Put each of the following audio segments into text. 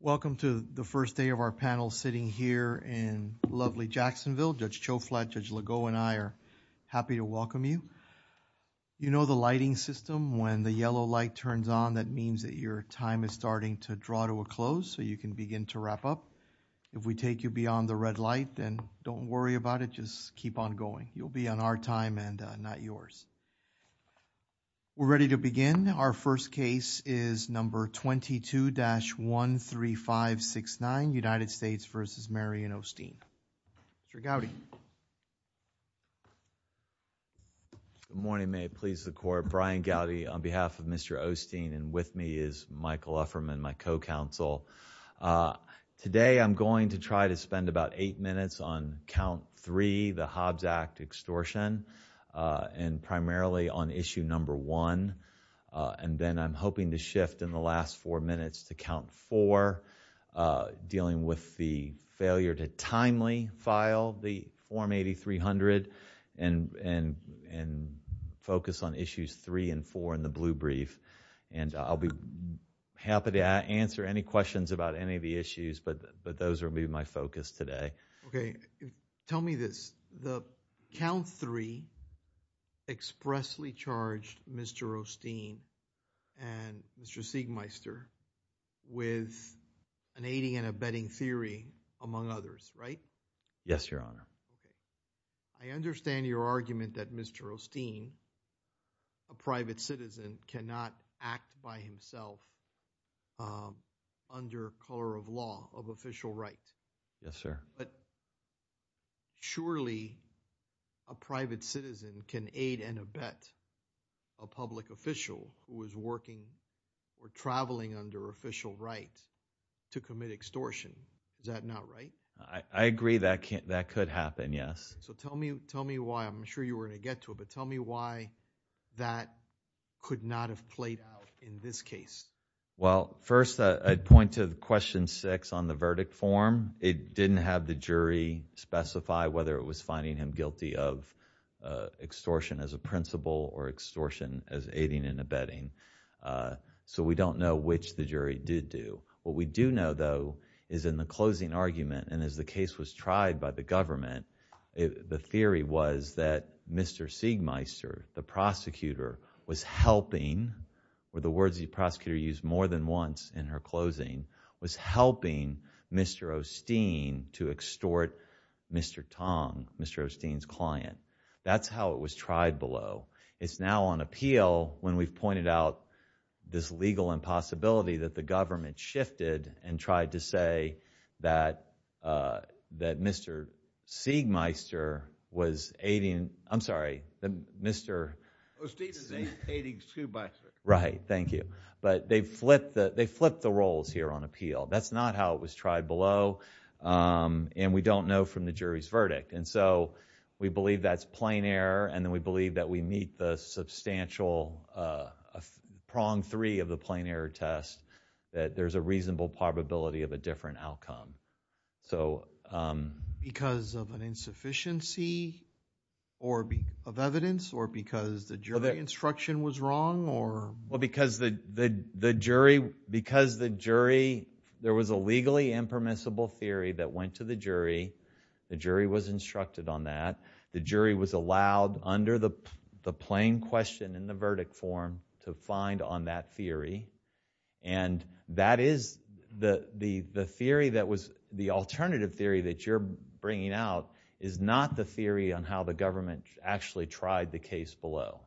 Welcome to the first day of our panel sitting here in lovely Jacksonville. Judge Cho Flatt, Judge Legault and I are happy to welcome you. You know the lighting system when the yellow light turns on that means that your time is starting to draw to a close so you can begin to wrap up. If we take you beyond the red light then don't worry about it, just keep on going. You'll be on our time and not yours. We're ready to begin. Our first case is number 22-13569 United States v. Marion O'Steen. Mr. Gowdy. Good morning, may it please the court. Brian Gowdy on behalf of Mr. O'Steen and with me is Michael Ufferman, my co-counsel. Today I'm going to try to spend about 8 minutes on count 3, the Hobbs Act extortion and primarily on issue number 1. And then I'm hoping to shift in the last 4 minutes to count 4, dealing with the failure to timely file the form 8300 and focus on issues 3 and 4 in the blue brief. And I'll be happy to answer any questions about any of the issues but those will be my focus today. Okay, tell me this, the count 3 expressly charged Mr. O'Steen and Mr. Siegmeister with an aiding and abetting theory among others, right? Yes, your honor. I understand your argument that Mr. O'Steen, a private citizen, cannot act by himself under color of law of official right. Yes, sir. But surely a private citizen can aid and abet a public official who is working or traveling under official right to commit extortion, is that not right? I agree that could happen, yes. So tell me why, I'm sure you were going to get to it, but tell me why that could not have played out in this case? Well, first I'd point to question 6 on the verdict form. It didn't have the jury specify whether it was finding him guilty of extortion as a principle or extortion as aiding and abetting. So we don't know which the jury did do. What we do know though is in the closing argument and as the case was tried by the government, the theory was that Mr. Siegmeister, the prosecutor, was helping, were the words the prosecutor used more than once in her closing, was helping Mr. O'Steen to extort Mr. Tong, Mr. O'Steen's client. That's how it was tried below. It's now on appeal when we've pointed out this legal impossibility that the government shifted and tried to say that Mr. Siegmeister was aiding, I'm sorry, Mr. O'Steen is aiding too by... Right, thank you. But they flipped the roles here on appeal. That's not how it was tried below, and we don't know from the jury's verdict. And so we believe that's plain error, and we believe that we meet the substantial prong 3 of the plain error test, that there's a reasonable probability of a different outcome. Because of an insufficiency of evidence or because the jury instruction was wrong? Because the jury, there was a legally impermissible theory that went to the jury. The jury was instructed on that. The jury was allowed under the plain question in the verdict form to find on that theory. And that is the theory that was the alternative theory that you're bringing out is not the theory on how the government actually tried the case below.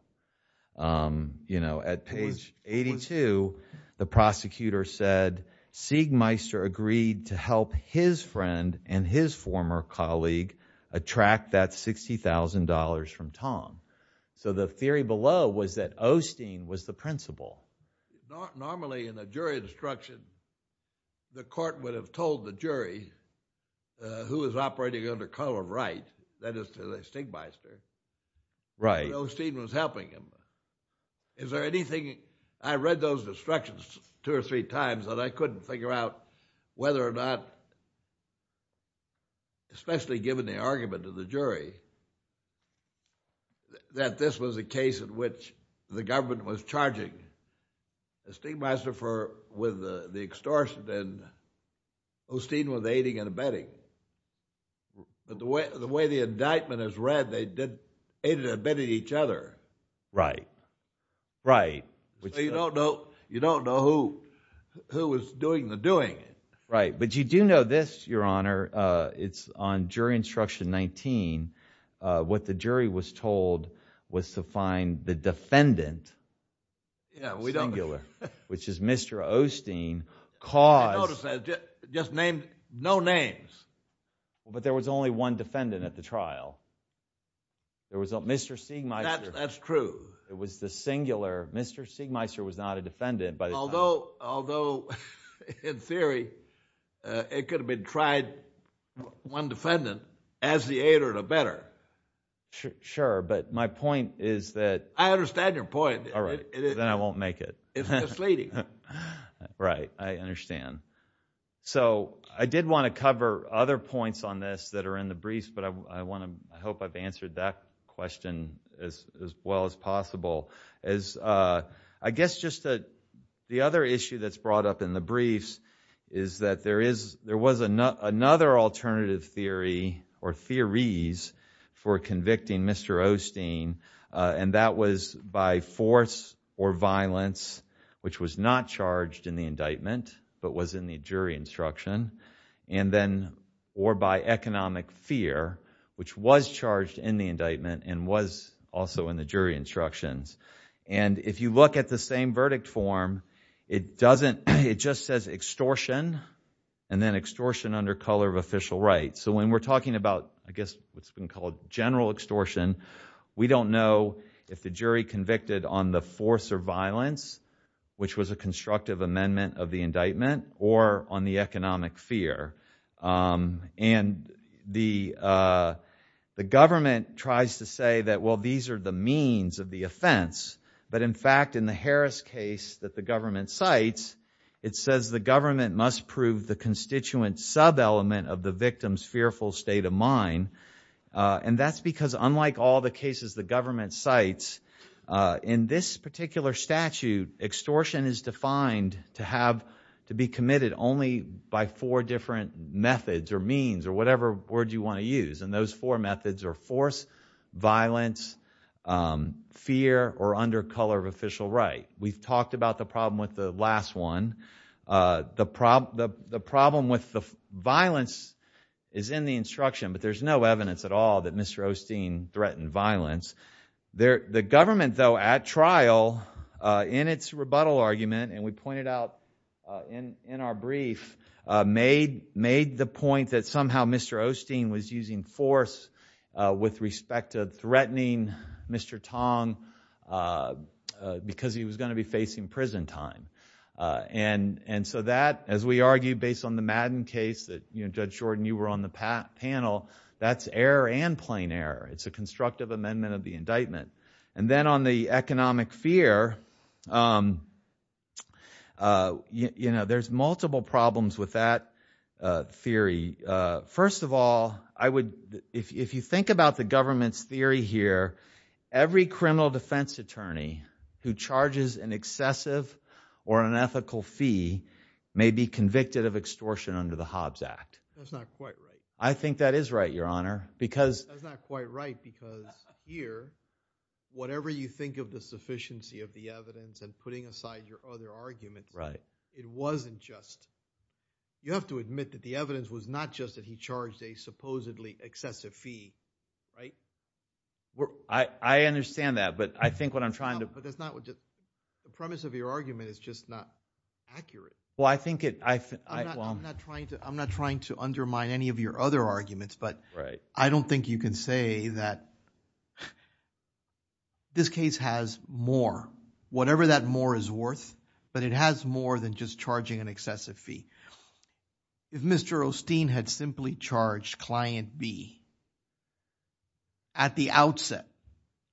You know, at page 82, the prosecutor said Siegmeister agreed to help his friend and his former colleague attract that $60,000 from Tom. So the theory below was that O'Steen was the principal. Normally in a jury instruction, the court would have told the jury who is operating under Cullen Wright, that is, the Stigmeister, that O'Steen was helping him. Is there anything... I read those instructions two or three times that I couldn't figure out whether or not, especially given the argument of the jury, that this was a case in which the government was charging Stigmeister for with the extortion and O'Steen with aiding and abetting. But the way the indictment is read, they did aid and abetted each other. Right. Right. You don't know who was doing the doing. Right. But you do know this, Your Honor, it's on jury instruction 19, what the jury was told was to find the defendant, singular, which is Mr. O'Steen, caused... I noticed that, just named no names. But there was only one defendant at the trial. There was Mr. Stigmeister. That's true. It was the singular. Mr. Stigmeister was not a defendant, but... Although, in theory, it could have been tried, one defendant, as the aid or abetter. Sure. But my point is that... I understand your point. All right. Then I won't make it. It's misleading. Right. I understand. I did want to cover other points on this that are in the briefs, but I hope I've answered that question as well as possible. I guess just the other issue that's brought up in the briefs is that there was another alternative theory, or theories, for convicting Mr. O'Steen, and that was by force or violence, which was not charged in the indictment, but was in the jury instruction. Then, or by economic fear, which was charged in the indictment and was also in the jury instructions. If you look at the same verdict form, it just says extortion, and then extortion under color of official right. When we're talking about, I guess, what's been called general extortion, we don't know if the jury convicted on the force or violence, which was a constructive amendment of the indictment, or on the economic fear. The government tries to say that, well, these are the means of the offense, but in fact, in the Harris case that the government cites, it says the government must prove the constituent sub-element of the victim's fearful state of mind, and that's because unlike all the cases the government cites, in this particular statute, extortion is defined to be committed only by four different methods or means, or whatever word you want to use. Those four methods are force, violence, fear, or under color of official right. We've talked about the problem with the last one. The problem with the violence is in the instruction, but there's no evidence at all that Mr. O'Steen threatened violence. The government, though, at trial, in its rebuttal argument, and we pointed out in our brief, made the point that somehow Mr. O'Steen was using force with respect to threatening Mr. Tong because he was going to be facing prison time. That, as we argued based on the Madden case that, Judge Jordan, you were on the panel, that's error and plain error. It's a constructive amendment of the indictment. Then on the economic fear, there's multiple problems with that theory. First of all, if you think about the government's theory here, every criminal defense attorney who charges an excessive or unethical fee may be convicted of extortion under the Hobbs Act. That's not quite right. I think that is right, Your Honor, because That's not quite right because here, whatever you think of the sufficiency of the evidence and putting aside your other argument, it wasn't just... You have to admit that the evidence was not just that he charged a supposedly excessive fee, right? I understand that, but I think what I'm trying to... But that's not what... The premise of your argument is just not accurate. Well, I think it... I'm not trying to undermine any of your other arguments, but I don't think you can say that this case has more, whatever that more is worth, but it has more than just charging an excessive fee. If Mr. Osteen had simply charged Client B at the outset,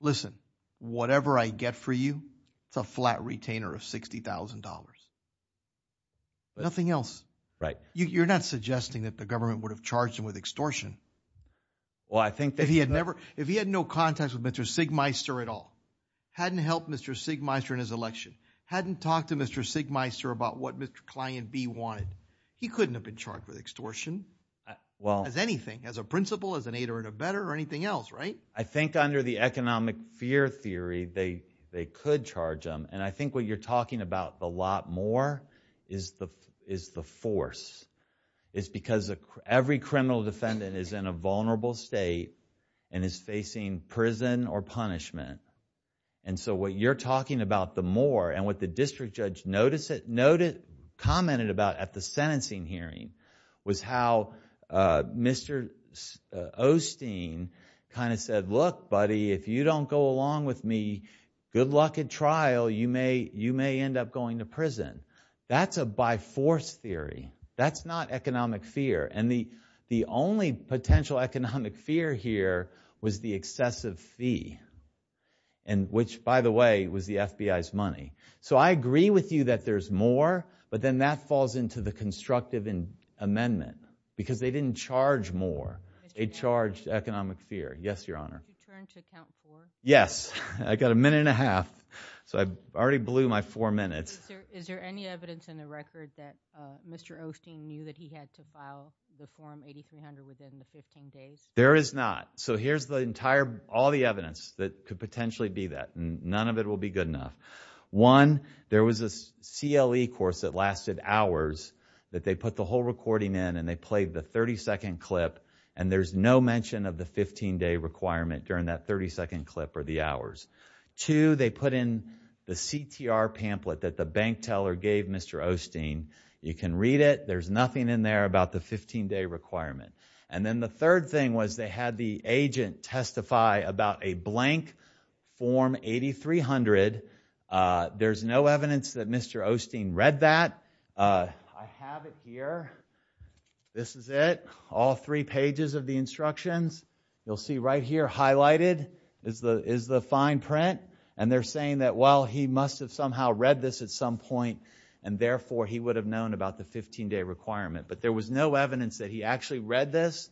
listen, whatever I get for you, it's a flat retainer of $60,000, but nothing else. You're not suggesting that the government would have charged him with extortion. Well, I think... If he had never... If he had no contact with Mr. Siegmeister at all, hadn't helped Mr. Siegmeister in his election, hadn't talked to Mr. Siegmeister about what Mr. Client B wanted, he couldn't have been charged with extortion as anything, as a principal, as an aider and abetter, or anything else, right? I think under the economic fear theory, they could charge him, and I think what you're talking about, the more, and what the district judge commented about at the sentencing hearing, was how Mr. Osteen kind of said, look, buddy, if you don't go along with me, good luck at trial, you may end up going to prison. That's a by force theory. That's not economic fear, and the only potential economic fear here was the excessive fee, which, by the way, was the FBI's money. So I agree with you that there's more, but then that falls into the constructive amendment, because they didn't charge more. They charged economic fear. Yes, Your Honor. Did he turn to count four? Yes. I've got a minute and a half, so I've already blew my four minutes. Is there any evidence in the record that Mr. Osteen knew that he had to file the form 8300 within the 15 days? There is not. So here's the entire, all the evidence that could potentially be that. None of it will be good enough. One, there was a CLE course that lasted hours that they put the whole recording in, and they played the 30-second clip, and there's no mention of the 15-day requirement during that 30-second clip or the hours. Two, they put in the CTR pamphlet that the bank teller gave Mr. Osteen. You can read it. There's nothing in there about the 15-day requirement. And then the third thing was they had the agent testify about a blank form 8300. There's no evidence that Mr. Osteen read that. I have it here. This is it, all three pages of the instructions. You'll see right here highlighted is the fine print, and they're saying that, well, he must have somehow read this at some point, and therefore, he would have known about the 15-day requirement. But there was no evidence that he actually read this,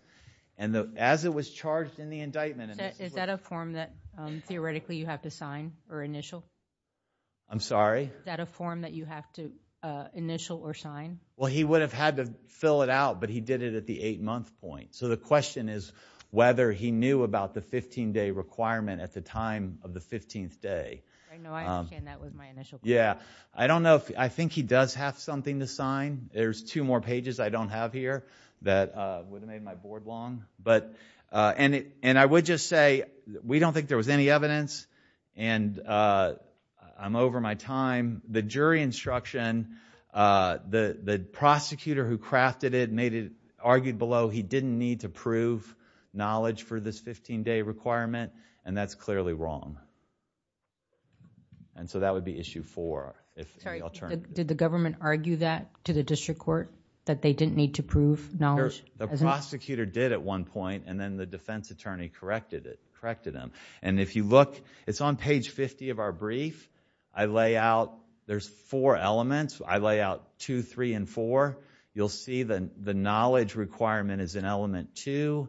and as it was charged in the indictment. Is that a form that, theoretically, you have to sign or initial? I'm sorry? Is that a form that you have to initial or sign? Well, he would have had to fill it out, but he did it at the 8-month point. So the question is whether he knew about the 15-day requirement at the time of the 15th day. I know. I understand that was my initial question. Yeah. I don't know if... I think he does have something to sign. There's two more pages I don't have here that would have made my board long. And I would just say we don't think there was any evidence, and I'm over my time. The jury instruction, the prosecutor who crafted it argued below he didn't need to prove knowledge for this 15-day requirement, and that's clearly wrong. And so, that would be issue four if... Sorry. Did the government argue that to the district court, that they didn't need to prove knowledge? Sure. The prosecutor did at one point, and then the defense attorney corrected them. And if you look, it's on page 50 of our brief. I lay out... there's four elements. I you'll see the knowledge requirement is in element two,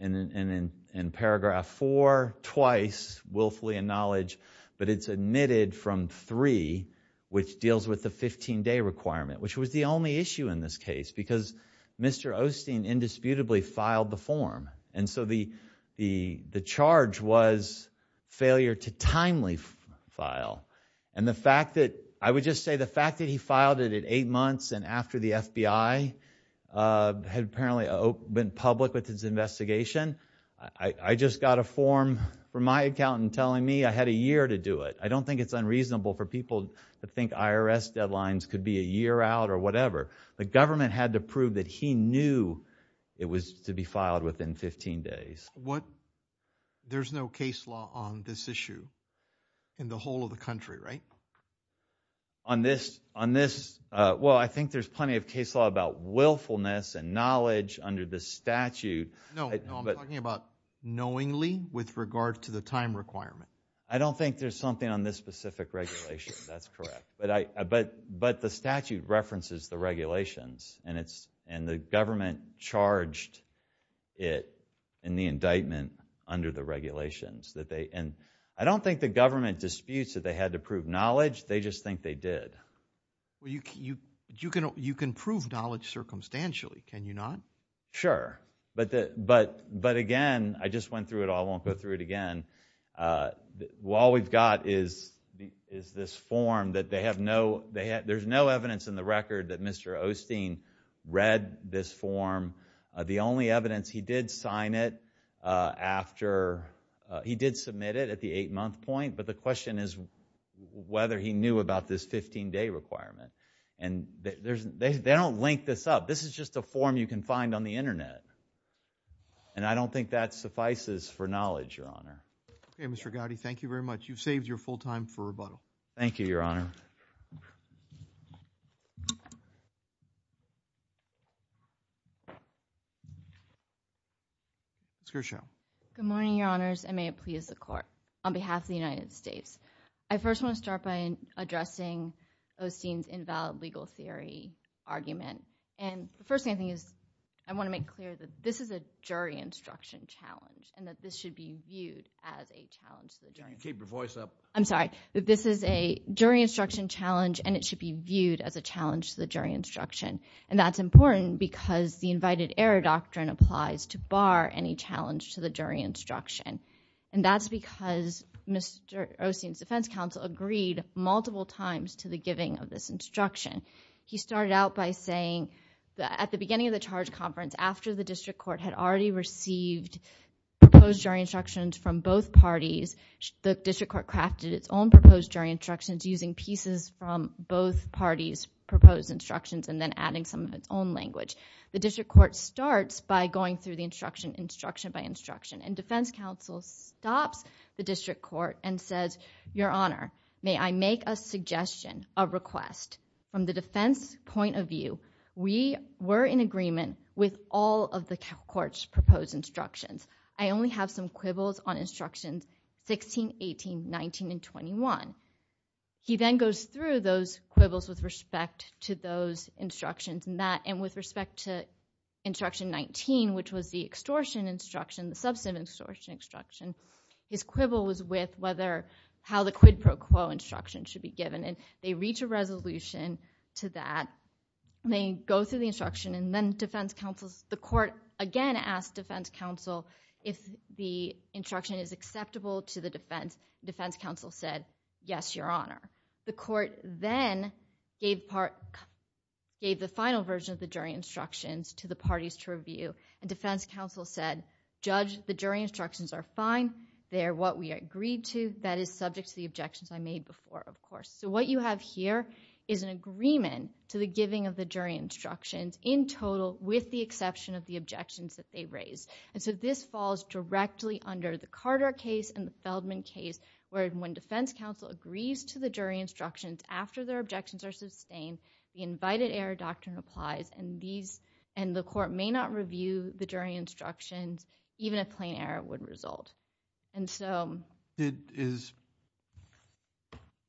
and in paragraph four, twice willfully in knowledge, but it's omitted from three, which deals with the 15-day requirement, which was the only issue in this case, because Mr. Osteen indisputably filed the form. And so, the charge was failure to timely file. And the fact that... I would just say the fact that he filed it at eight months and after the FBI had apparently been public with his investigation, I just got a form from my accountant telling me I had a year to do it. I don't think it's unreasonable for people to think IRS deadlines could be a year out or whatever. The government had to prove that he knew it was to be filed within 15 days. There's no case law on this issue in the whole of the country, right? On this... well, I think there's plenty of case law about willfulness and knowledge under the statute. No, no, I'm talking about knowingly with regard to the time requirement. I don't think there's something on this specific regulation. That's correct. But the statute references the regulations, and the government charged it in the indictment under the regulations. And I don't think the government disputes that they had to prove knowledge. They just think they did. You can prove knowledge circumstantially, can you not? Sure. But again, I just went through it all. I won't go through it again. All we've got is this form that they have no... there's no evidence in the record that Mr. Osteen read this form. The only evidence... he did sign it after... he did submit it at the eight-month point, but the question is whether he knew about this 15-day requirement. And they don't link this up. This is just a form you can find on the internet. And I don't think that suffices for knowledge, Your Honor. Okay, Mr. Gowdy, thank you very much. You've saved your full time for rebuttal. Thank you, Your Honor. Ms. Gershow. Good morning, Your Honors, and may it please the Court. On behalf of the United States, I first want to start by addressing Osteen's invalid legal theory argument. And the first thing I think is I want to make clear that this is a jury instruction challenge and that this should be viewed as a challenge to the jury... Keep your voice up. I'm sorry. This is a jury instruction challenge and it should be viewed as a challenge to the jury instruction. And that's important because the invited error doctrine applies to bar any challenge to the jury instruction. And that's because Mr. Osteen's defense counsel agreed multiple times to the giving of this instruction. He started out by saying that at the beginning of the charge conference, after the district court had already received proposed jury instructions from both parties, the district court crafted its own proposed jury instructions using pieces from both parties' proposed instructions and then adding some of its own language. The district court starts by going through the instruction, instruction by instruction, and defense counsel stops the district court and says, Your Honor, may I make a suggestion, a request, from the defense point of view, we were in agreement with all of the court's proposed instructions. I only have some quibbles on instructions 16, 18, 19, and 21. He then goes through those quibbles with respect to those instructions and with respect to instruction 19, which was the extortion instruction, the substantive extortion instruction, his quibble was with how the quid pro quo instruction should be given. And they reach a resolution to that. They go through the instruction and then the defense counsel, the court again asks defense counsel if the instruction is acceptable to the defense. Defense counsel said, Yes, Your Honor. The court then gave the final version of the jury instructions to the parties to review. And defense counsel said, Judge, the jury instructions are fine. They are what we agreed to. That is subject to the objections I made before, of course. So what you have here is an agreement to the giving of the jury instructions in reception of the objections that they raised. And so this falls directly under the Carter case and the Feldman case where when defense counsel agrees to the jury instructions after their objections are sustained, the invited error doctrine applies and the court may not review the jury instructions, even a plain error would result. And so it is,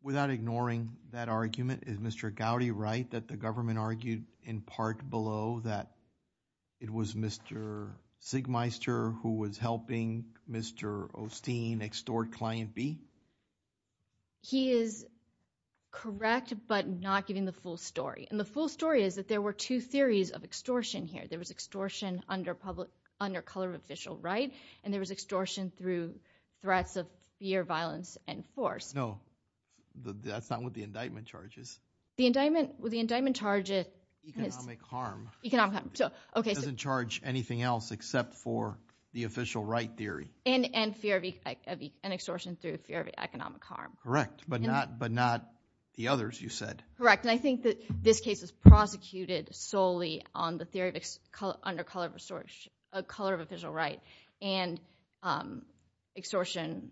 without ignoring that argument, is Mr. Gowdy right that the government argued in part below that it was Mr. Sigmeister who was helping Mr. Osteen extort Client B? He is correct but not giving the full story. And the full story is that there were two theories of extortion here. There was extortion under color of official right and there was extortion through threats of fear, violence and force. No, that's not what the indictment charges. The indictment charges economic harm. It doesn't charge anything else except for the official right theory. And fear of an extortion through fear of economic harm. Correct, but not the others you said. Correct. And I think that this case is prosecuted solely on the theory of under color of official right and extortion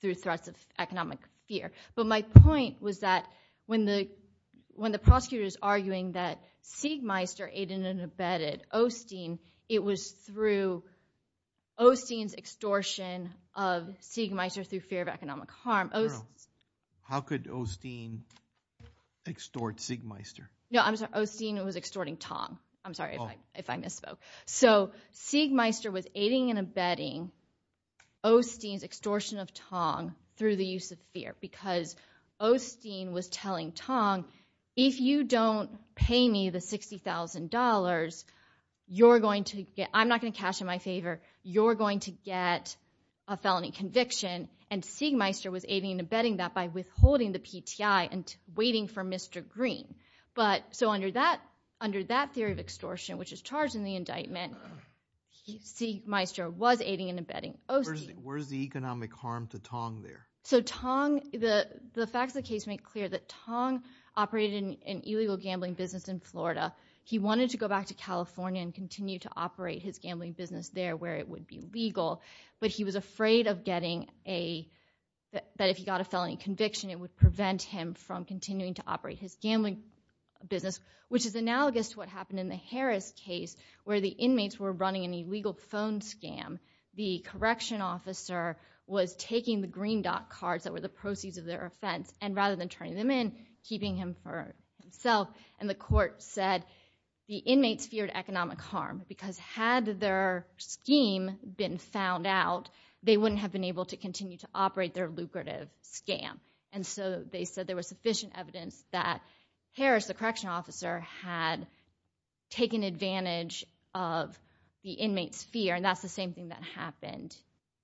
through threats of economic fear. But my point was that when the prosecutor is arguing that Sigmeister aided and abetted Osteen, it was through Osteen's extortion of Sigmeister through fear of economic harm. How could Osteen extort Sigmeister? No, I'm sorry, Osteen was extorting Tong. I'm sorry if I misspoke. So, Sigmeister was aiding and abetting Osteen's extortion of Tong through the use of fear because Osteen was telling Tong, if you don't pay me the $60,000, you're going to get, I'm not going to cash in my favor, you're going to get a felony conviction. And Sigmeister was aiding and abetting that by withholding the PTI and waiting for Mr. Green. So under that theory of extortion, which is charged in the indictment, Sigmeister was aiding and abetting Osteen. Where's the economic harm to Tong there? So Tong, the facts of the case make clear that Tong operated an illegal gambling business in Florida. He wanted to go back to California and continue to operate his gambling business there where it would be legal. But he was afraid of getting a, that if he got a felony conviction, it would prevent him from continuing to operate his gambling business. Which is analogous to what happened in the Harris case where the inmates were running an illegal phone scam. The correction officer was taking the green dot cards that were the proceeds of their offense and rather than turning them in, keeping him for himself. And the court said the inmates feared economic harm because had their scheme been found out, they wouldn't have been able to continue to operate their lucrative scam. And so they said there was sufficient evidence that Harris, the correction officer, had taken advantage of the inmate's fear. And that's the same thing that happened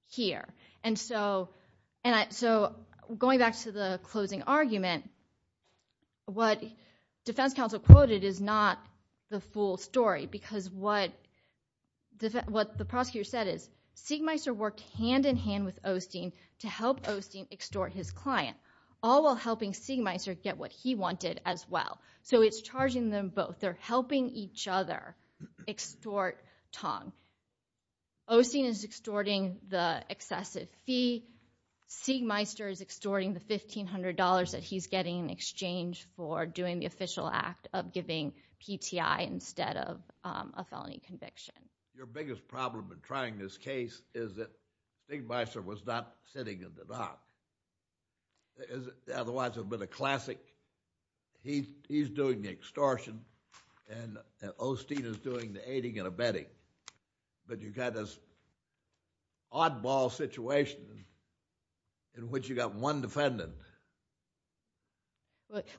here. And so going back to the closing argument, what defense counsel quoted is not the full story. What the court said is, Sigmeister worked hand in hand with Osteen to help Osteen extort his client. All while helping Sigmeister get what he wanted as well. So it's charging them both. They're helping each other extort Tong. Osteen is extorting the excessive fee. Sigmeister is extorting the $1,500 that he's getting in exchange for doing the official act of giving PTI instead of a felony conviction. Your biggest problem in trying this case is that Sigmeister was not sitting in the dock. Otherwise it would have been a classic, he's doing the extortion and Osteen is doing the aiding and abetting. But you've got this oddball situation in which you've got one defendant.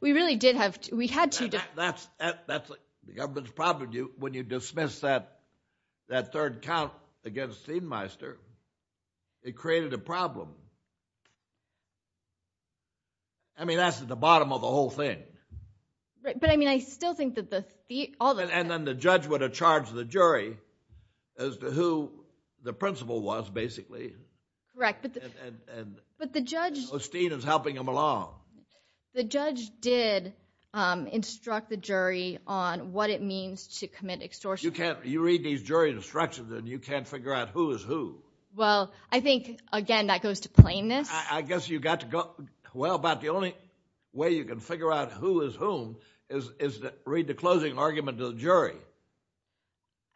We really did have to, we had to. That's the government's problem. When you dismiss that third count against Sigmeister, it created a problem. I mean, that's at the bottom of the whole thing. But I mean, I still think that the, all the... And then the judge would have charged the jury as to who the principal was, basically. Correct. But the judge... The judge did instruct the jury on what it means to commit extortion. You read these jury instructions and you can't figure out who is who. Well, I think, again, that goes to plainness. I guess you've got to go, well, about the only way you can figure out who is whom is to read the closing argument to the jury.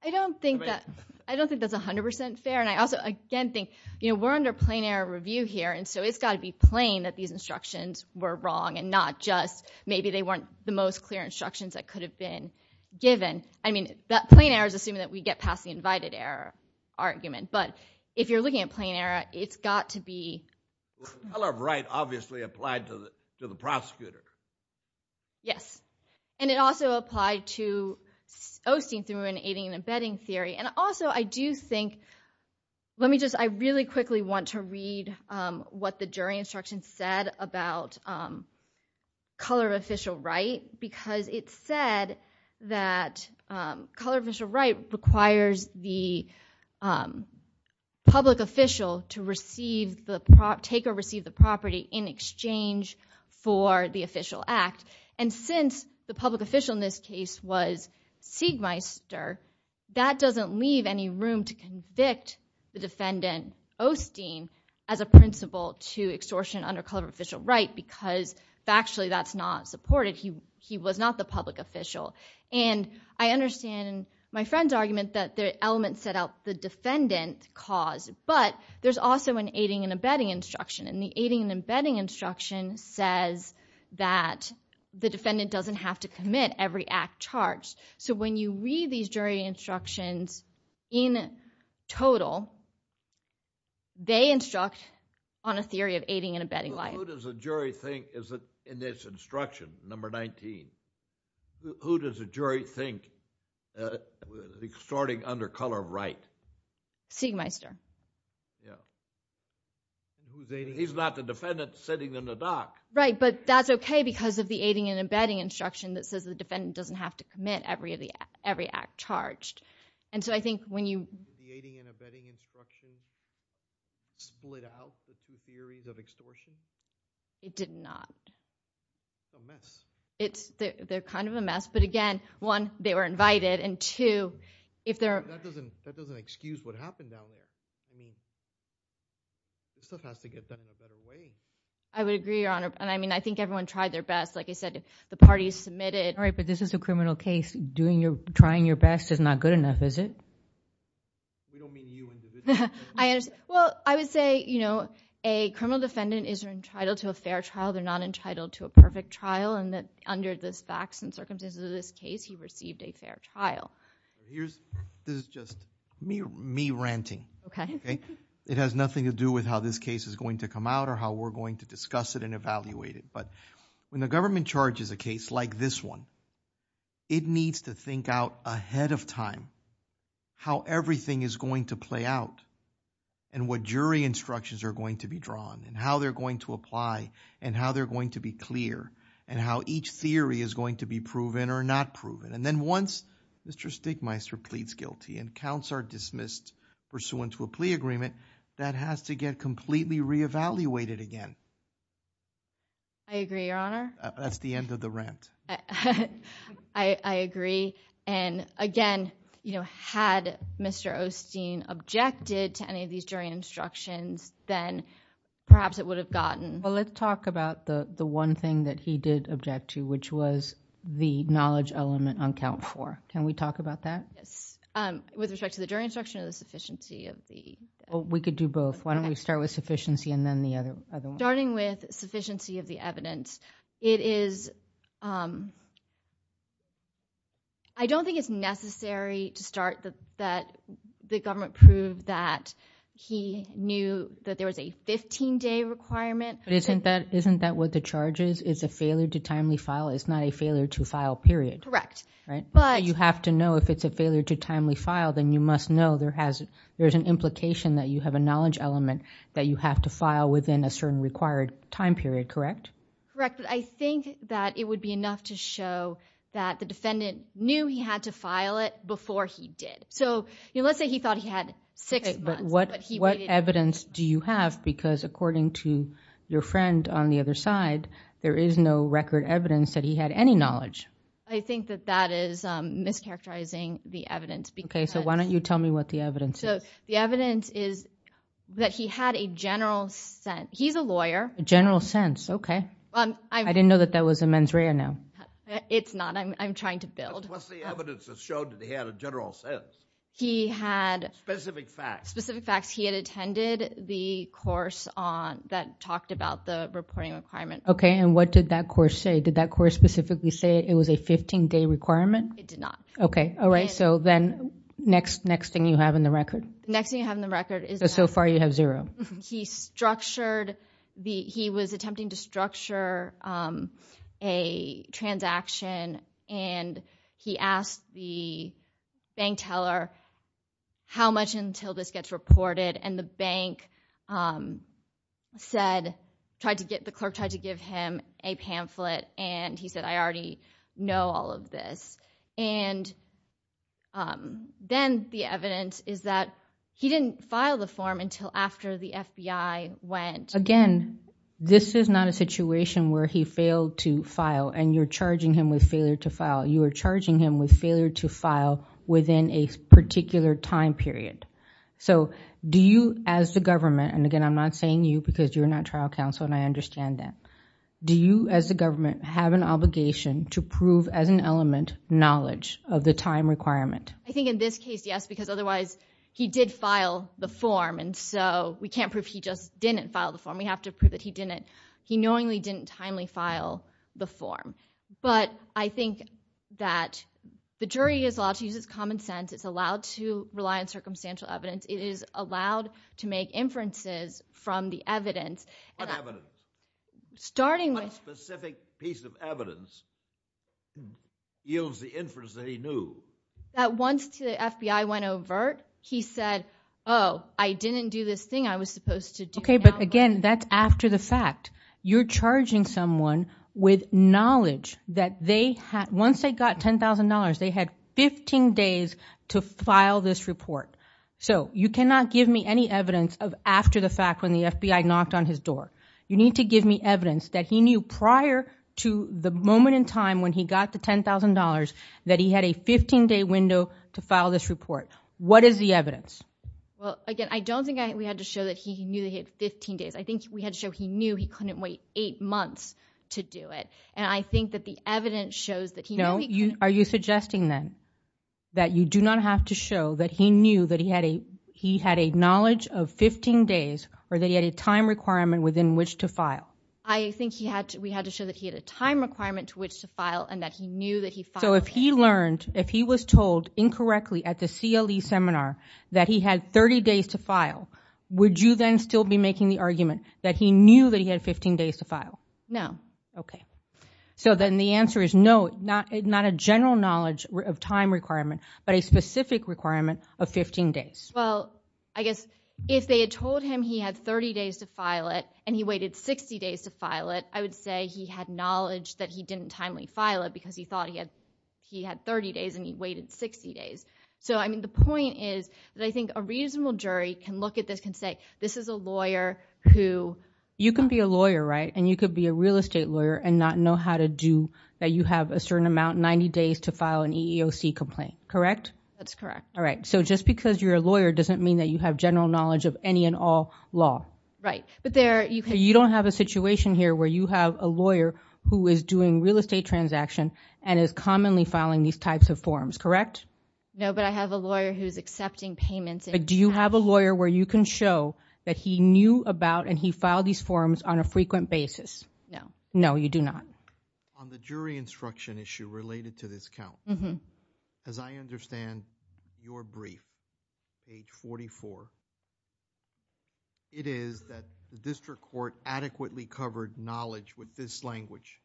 I don't think that's 100% fair. And I also, again, think we're under plain error review here and so it's got to be plain that these instructions were wrong and not just maybe they weren't the most clear instructions that could have been given. I mean, that plain error is assuming that we get past the invited error argument. But if you're looking at plain error, it's got to be... The color of right obviously applied to the prosecutor. Yes. And it also applied to Osteen through an aiding and abetting theory. And also, I do think... Let me just... I really quickly want to read what the jury instruction said about color of official right because it said that color of official right requires the public official to take or receive the property in exchange for the official act. And since the public official in this case was Siegmeister, that doesn't leave any room to convict the defendant, Osteen, as a principle to extortion under color of official right because factually that's not supported. He was not the public official. And I understand my friend's argument that the element set out the defendant cause, but there's also an aiding and abetting instruction. And the aiding and abetting instruction says that the defendant doesn't have to commit to every act charged. So when you read these jury instructions in total, they instruct on a theory of aiding and abetting life. Who does the jury think is in this instruction, number 19? Who does the jury think extorting under color of right? Siegmeister. Yeah. He's not the defendant sitting in the dock. Right, but that's okay because of the aiding and abetting instruction that says the defendant doesn't have to commit every act charged. And so I think when you— The aiding and abetting instruction split out the two theories of extortion? It did not. It's a mess. They're kind of a mess, but again, one, they were invited, and two, if they're— That doesn't excuse what happened down there. I mean, this stuff has to get done in a better way. I would agree, Your Honor. I mean, I think everyone tried their best. Like I said, the parties submitted. All right, but this is a criminal case. Trying your best is not good enough, is it? We don't mean you individually. I understand. Well, I would say a criminal defendant is entitled to a fair trial. They're not entitled to a perfect trial, and that under the facts and circumstances of this case, he received a fair trial. This is just me ranting. Okay. It has nothing to do with how this case is going to come out or how we're going to discuss it and evaluate it, but when the government charges a case like this one, it needs to think out ahead of time how everything is going to play out and what jury instructions are going to be drawn and how they're going to apply and how they're going to be clear and how each theory is going to be proven or not proven, and then once Mr. Stigmeister pleads guilty and counts are dismissed pursuant to a plea agreement, that has to get completely reevaluated again. I agree, Your Honor. That's the end of the rant. I agree. And again, had Mr. Osteen objected to any of these jury instructions, then perhaps it would have gotten... Well, let's talk about the one thing that he did object to, which was the knowledge element on count four. Can we talk about that? Yes. With respect to the jury instruction or the sufficiency of the... We could do both. Why don't we start with sufficiency and then the other one? Starting with sufficiency of the evidence, it is... I don't think it's necessary to start that the government proved that he knew that there was a 15-day requirement. But isn't that what the charge is? It's a failure to timely file. It's not a failure to file, period. Correct. You have to know if it's a failure to timely file, then you must know there's an implication that you have a knowledge element that you have to file within a certain required time period, correct? Correct. I think that it would be enough to show that the defendant knew he had to file it before he did. Let's say he thought he had six months, but he waited... What evidence do you have? Because according to your friend on the other side, there is no record evidence that he had any knowledge. I think that that is mischaracterizing the evidence because... Okay, so why don't you tell me what the evidence is? The evidence is that he had a general sense. He's a lawyer. A general sense, okay. I didn't know that that was a mens rea now. It's not. I'm trying to build. What's the evidence that showed that he had a general sense? He had... Specific facts. Specific facts. He had attended the course that talked about the reporting requirement. Okay, and what did that course say? Did that course specifically say it was a 15-day requirement? It did not. Okay, all right. So then next thing you have in the record? Next thing you have in the record is... So far you have zero. He structured the... He was attempting to structure a transaction, and he asked the bank teller how much until this gets reported, and the bank said... The clerk tried to give him a pamphlet, and he said, I already know all of this. And then the evidence is that he didn't file the form until after the FBI went. Again, this is not a situation where he failed to file, and you're charging him with failure to file. You are charging him with failure to file within a particular time period. So do you, as the government, and, again, I'm not saying you, because you're not trial counsel and I understand that. Do you, as the government, have an obligation to prove as an element knowledge of the time requirement? I think in this case, yes, because otherwise he did file the form, and so we can't prove he just didn't file the form. We have to prove that he knowingly didn't timely file the form. But I think that the jury is allowed to use its common sense. It's allowed to rely on circumstantial evidence. It is allowed to make inferences from the evidence. What evidence? What specific piece of evidence yields the inference that he knew? That once the FBI went overt, he said, oh, I didn't do this thing I was supposed to do. Okay, but, again, that's after the fact. You're charging someone with knowledge that once they got $10,000, they had 15 days to file this report. So you cannot give me any evidence of after the fact when the FBI knocked on his door. You need to give me evidence that he knew prior to the moment in time when he got the $10,000 that he had a 15-day window to file this report. What is the evidence? Well, again, I don't think we had to show that he knew he had 15 days. I think we had to show he knew he couldn't wait eight months to do it, and I think that the evidence shows that he knew he could. Are you suggesting, then, that you do not have to show that he knew that he had a knowledge of 15 days or that he had a time requirement within which to file? I think we had to show that he had a time requirement to which to file and that he knew that he filed. So if he learned, if he was told incorrectly at the CLE seminar that he had 30 days to file, would you then still be making the argument that he knew that he had 15 days to file? No. Okay. So then the answer is no, not a general knowledge of time requirement, but a specific requirement of 15 days. Well, I guess if they had told him he had 30 days to file it and he waited 60 days to file it, I would say he had knowledge that he didn't timely file it because he thought he had 30 days and he waited 60 days. So, I mean, the point is that I think a reasonable jury can look at this, can say this is a lawyer who— You can be a lawyer, right, and you could be a real estate lawyer and not know how to do that you have a certain amount, 90 days to file an EEOC complaint, correct? That's correct. All right. So just because you're a lawyer doesn't mean that you have general knowledge of any and all law. Right. You don't have a situation here where you have a lawyer who is doing real estate transaction and is commonly filing these types of forms, correct? No, but I have a lawyer who's accepting payments. Do you have a lawyer where you can show that he knew about and he filed these forms on a frequent basis? No. No, you do not. On the jury instruction issue related to this count, as I understand your brief, page 44, it is that the district court adequately covered knowledge with this language.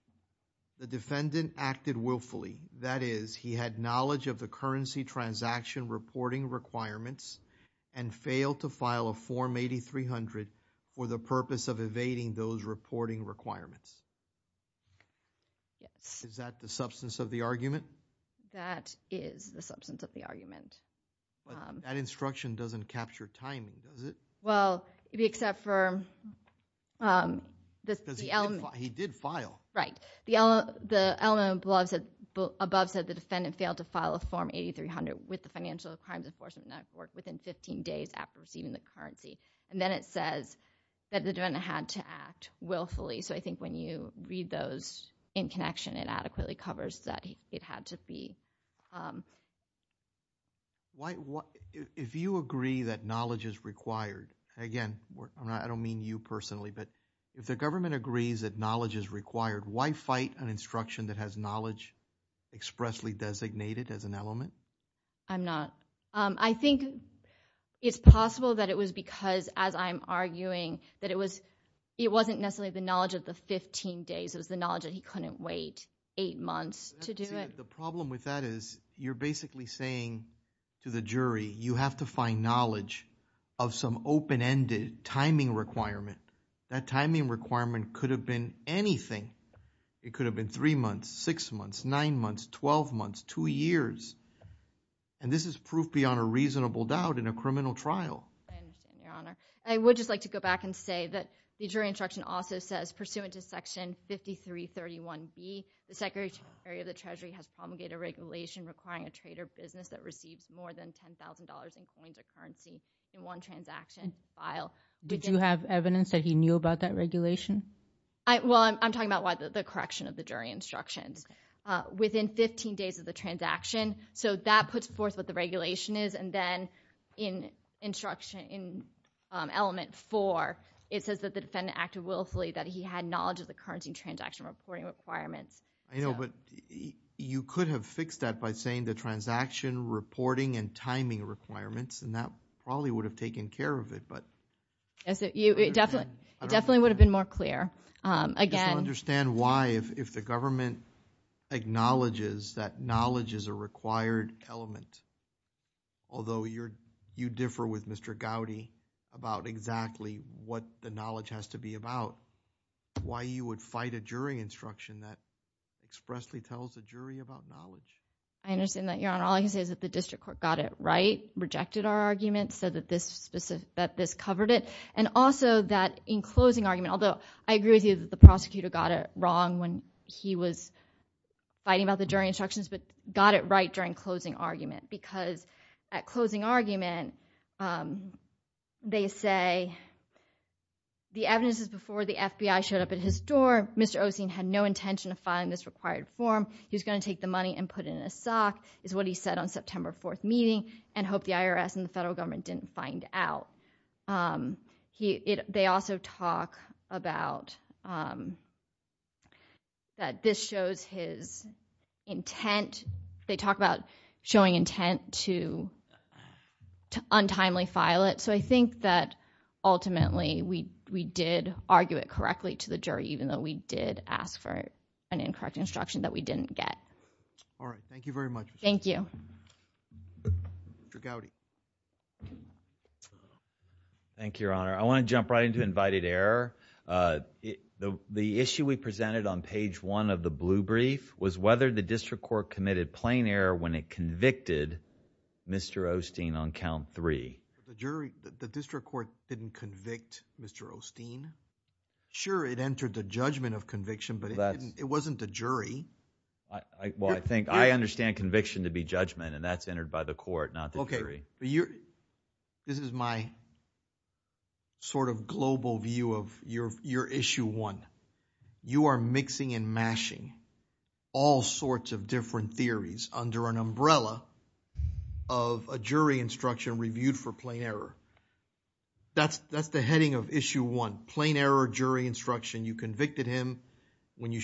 The defendant acted willfully, that is, he had knowledge of the currency transaction reporting requirements and failed to file a Form 8300 for the purpose of evading those reporting requirements. Yes. Is that the substance of the argument? That is the substance of the argument. But that instruction doesn't capture timing, does it? Well, except for the element. Because he did file. Right. The element above said the defendant failed to file a Form 8300 with the Financial Crimes Enforcement Network within 15 days after receiving the currency. And then it says that the defendant had to act willfully. So I think when you read those in connection, it adequately covers that it had to be. If you agree that knowledge is required, again, I don't mean you personally, but if the government agrees that knowledge is required, why fight an instruction that has knowledge expressly designated as an element? I'm not. I think it's possible that it was because, as I'm arguing, that it wasn't necessarily the knowledge of the 15 days. It was the knowledge that he couldn't wait eight months to do it. The problem with that is you're basically saying to the jury, you have to find knowledge of some open-ended timing requirement. That timing requirement could have been anything. It could have been three months, six months, nine months, 12 months, two years. And this is proof beyond a reasonable doubt in a criminal trial. I understand, Your Honor. I would just like to go back and say that the jury instruction also says, pursuant to Section 5331B, the Secretary of the Treasury has promulgated regulation requiring a trader business that receives more than $10,000 in coins or currency in one transaction file. Did you have evidence that he knew about that regulation? Well, I'm talking about the correction of the jury instructions. Within 15 days of the transaction, so that puts forth what the regulation is. And then in Element 4, it says that the defendant acted willfully, that he had knowledge of the currency transaction reporting requirements. I know, but you could have fixed that by saying the transaction reporting and timing requirements, and that probably would have taken care of it. It definitely would have been more clear. Just to understand why, if the government acknowledges that knowledge is a required element, although you differ with Mr. Gowdy about exactly what the knowledge has to be about, why you would fight a jury instruction that expressly tells the jury about knowledge? I understand that, Your Honor. All I can say is that the district court got it right, rejected our argument, said that this covered it, and also that in closing argument, although I agree with you that the prosecutor got it wrong when he was fighting about the jury instructions, but got it right during closing argument because at closing argument, they say the evidence is before the FBI showed up at his door. Mr. Oseen had no intention of filing this required form. He was going to take the money and put it in a sock, is what he said on September 4th meeting, and hope the IRS and the federal government didn't find out. They also talk about that this shows his intent. They talk about showing intent to untimely file it, so I think that ultimately we did argue it correctly to the jury, even though we did ask for an incorrect instruction that we didn't get. All right. Thank you very much. Thank you. Mr. Gowdy. Thank you, Your Honor. I want to jump right into invited error. The issue we presented on page one of the blue brief was whether the district court committed plain error when it convicted Mr. Oseen on count three. The district court didn't convict Mr. Oseen? Well, I think I understand conviction to be judgment, and that's entered by the court, not the jury. This is my sort of global view of your issue one. You are mixing and mashing all sorts of different theories under an umbrella of a jury instruction reviewed for plain error. That's the heading of issue one, plain error jury instruction. You convicted him when you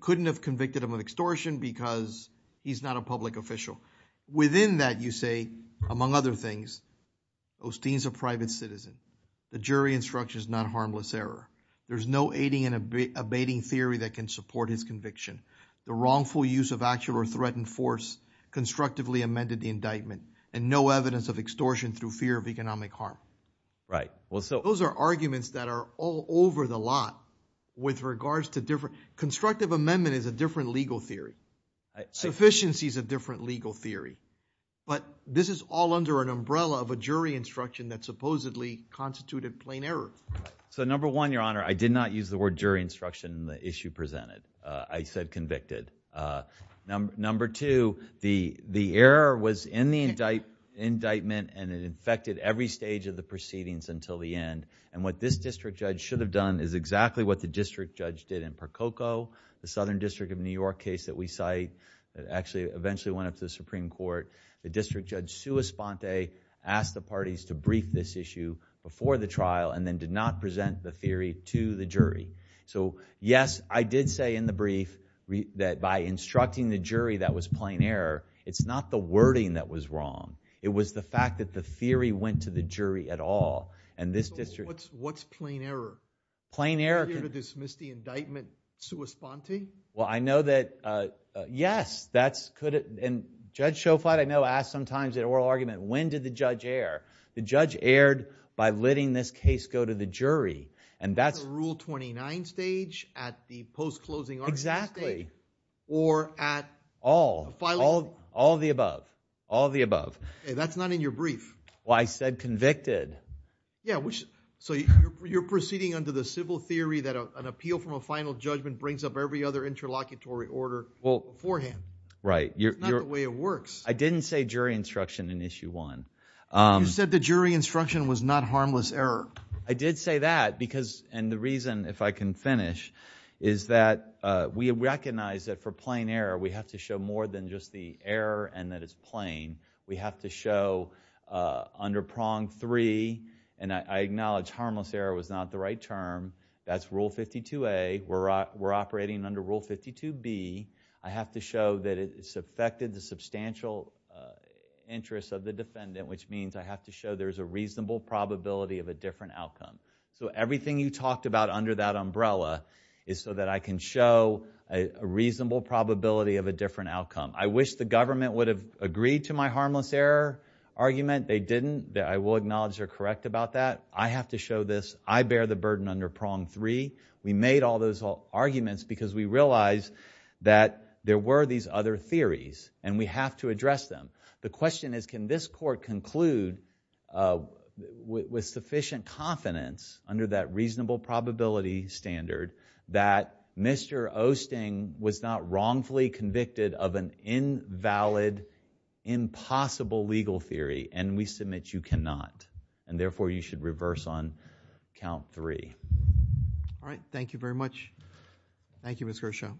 couldn't have convicted him of extortion because he's not a public official. Within that, you say, among other things, Oseen's a private citizen. The jury instruction is not harmless error. There's no aiding and abating theory that can support his conviction. The wrongful use of actual or threatened force constructively amended the indictment, and no evidence of extortion through fear of economic harm. Right. Those are arguments that are all over the lot with regards to different – constructive amendment is a different legal theory. Sufficiency is a different legal theory. But this is all under an umbrella of a jury instruction that supposedly constituted plain error. So number one, Your Honor, I did not use the word jury instruction in the issue presented. I said convicted. Number two, the error was in the indictment, and it infected every stage of the proceedings until the end. And what this district judge should have done is exactly what the district judge did in Percoco, the Southern District of New York case that we cite that actually eventually went up to the Supreme Court. The district judge, Sua Sponte, asked the parties to brief this issue before the trial and then did not present the theory to the jury. So, yes, I did say in the brief that by instructing the jury that was plain error, it's not the wording that was wrong. It was the fact that the theory went to the jury at all. And this district – What's plain error? Plain error – Are you going to dismiss the indictment, Sua Sponte? Well, I know that – yes, that's – and Judge Schofield, I know, asks sometimes in oral argument, when did the judge err? The judge erred by letting this case go to the jury. At the Rule 29 stage? At the post-closing argument stage? Exactly. Or at – All. All of the above. All of the above. That's not in your brief. Well, I said convicted. Yeah, so you're proceeding under the civil theory that an appeal from a final judgment brings up every other interlocutory order beforehand. Right. That's not the way it works. I didn't say jury instruction in Issue 1. You said the jury instruction was not harmless error. I did say that because – and the reason, if I can finish, is that we recognize that for plain error, we have to show more than just the error and that it's plain. We have to show under Prong 3 – and I acknowledge harmless error was not the right term. That's Rule 52A. We're operating under Rule 52B. I have to show that it's affected the substantial interest of the defendant, which means I have to show there's a reasonable probability of a different outcome. So everything you talked about under that umbrella is so that I can show a reasonable probability of a different outcome. I wish the government would have agreed to my harmless error argument. They didn't. I will acknowledge they're correct about that. I have to show this. I bear the burden under Prong 3. We made all those arguments because we realized that there were these other theories, and we have to address them. The question is, can this court conclude with sufficient confidence under that reasonable probability standard that Mr. Oesting was not wrongfully convicted of an invalid, impossible legal theory? And we submit you cannot. And therefore, you should reverse on Count 3. All right. Thank you very much. Thank you, Mr. Oeschel.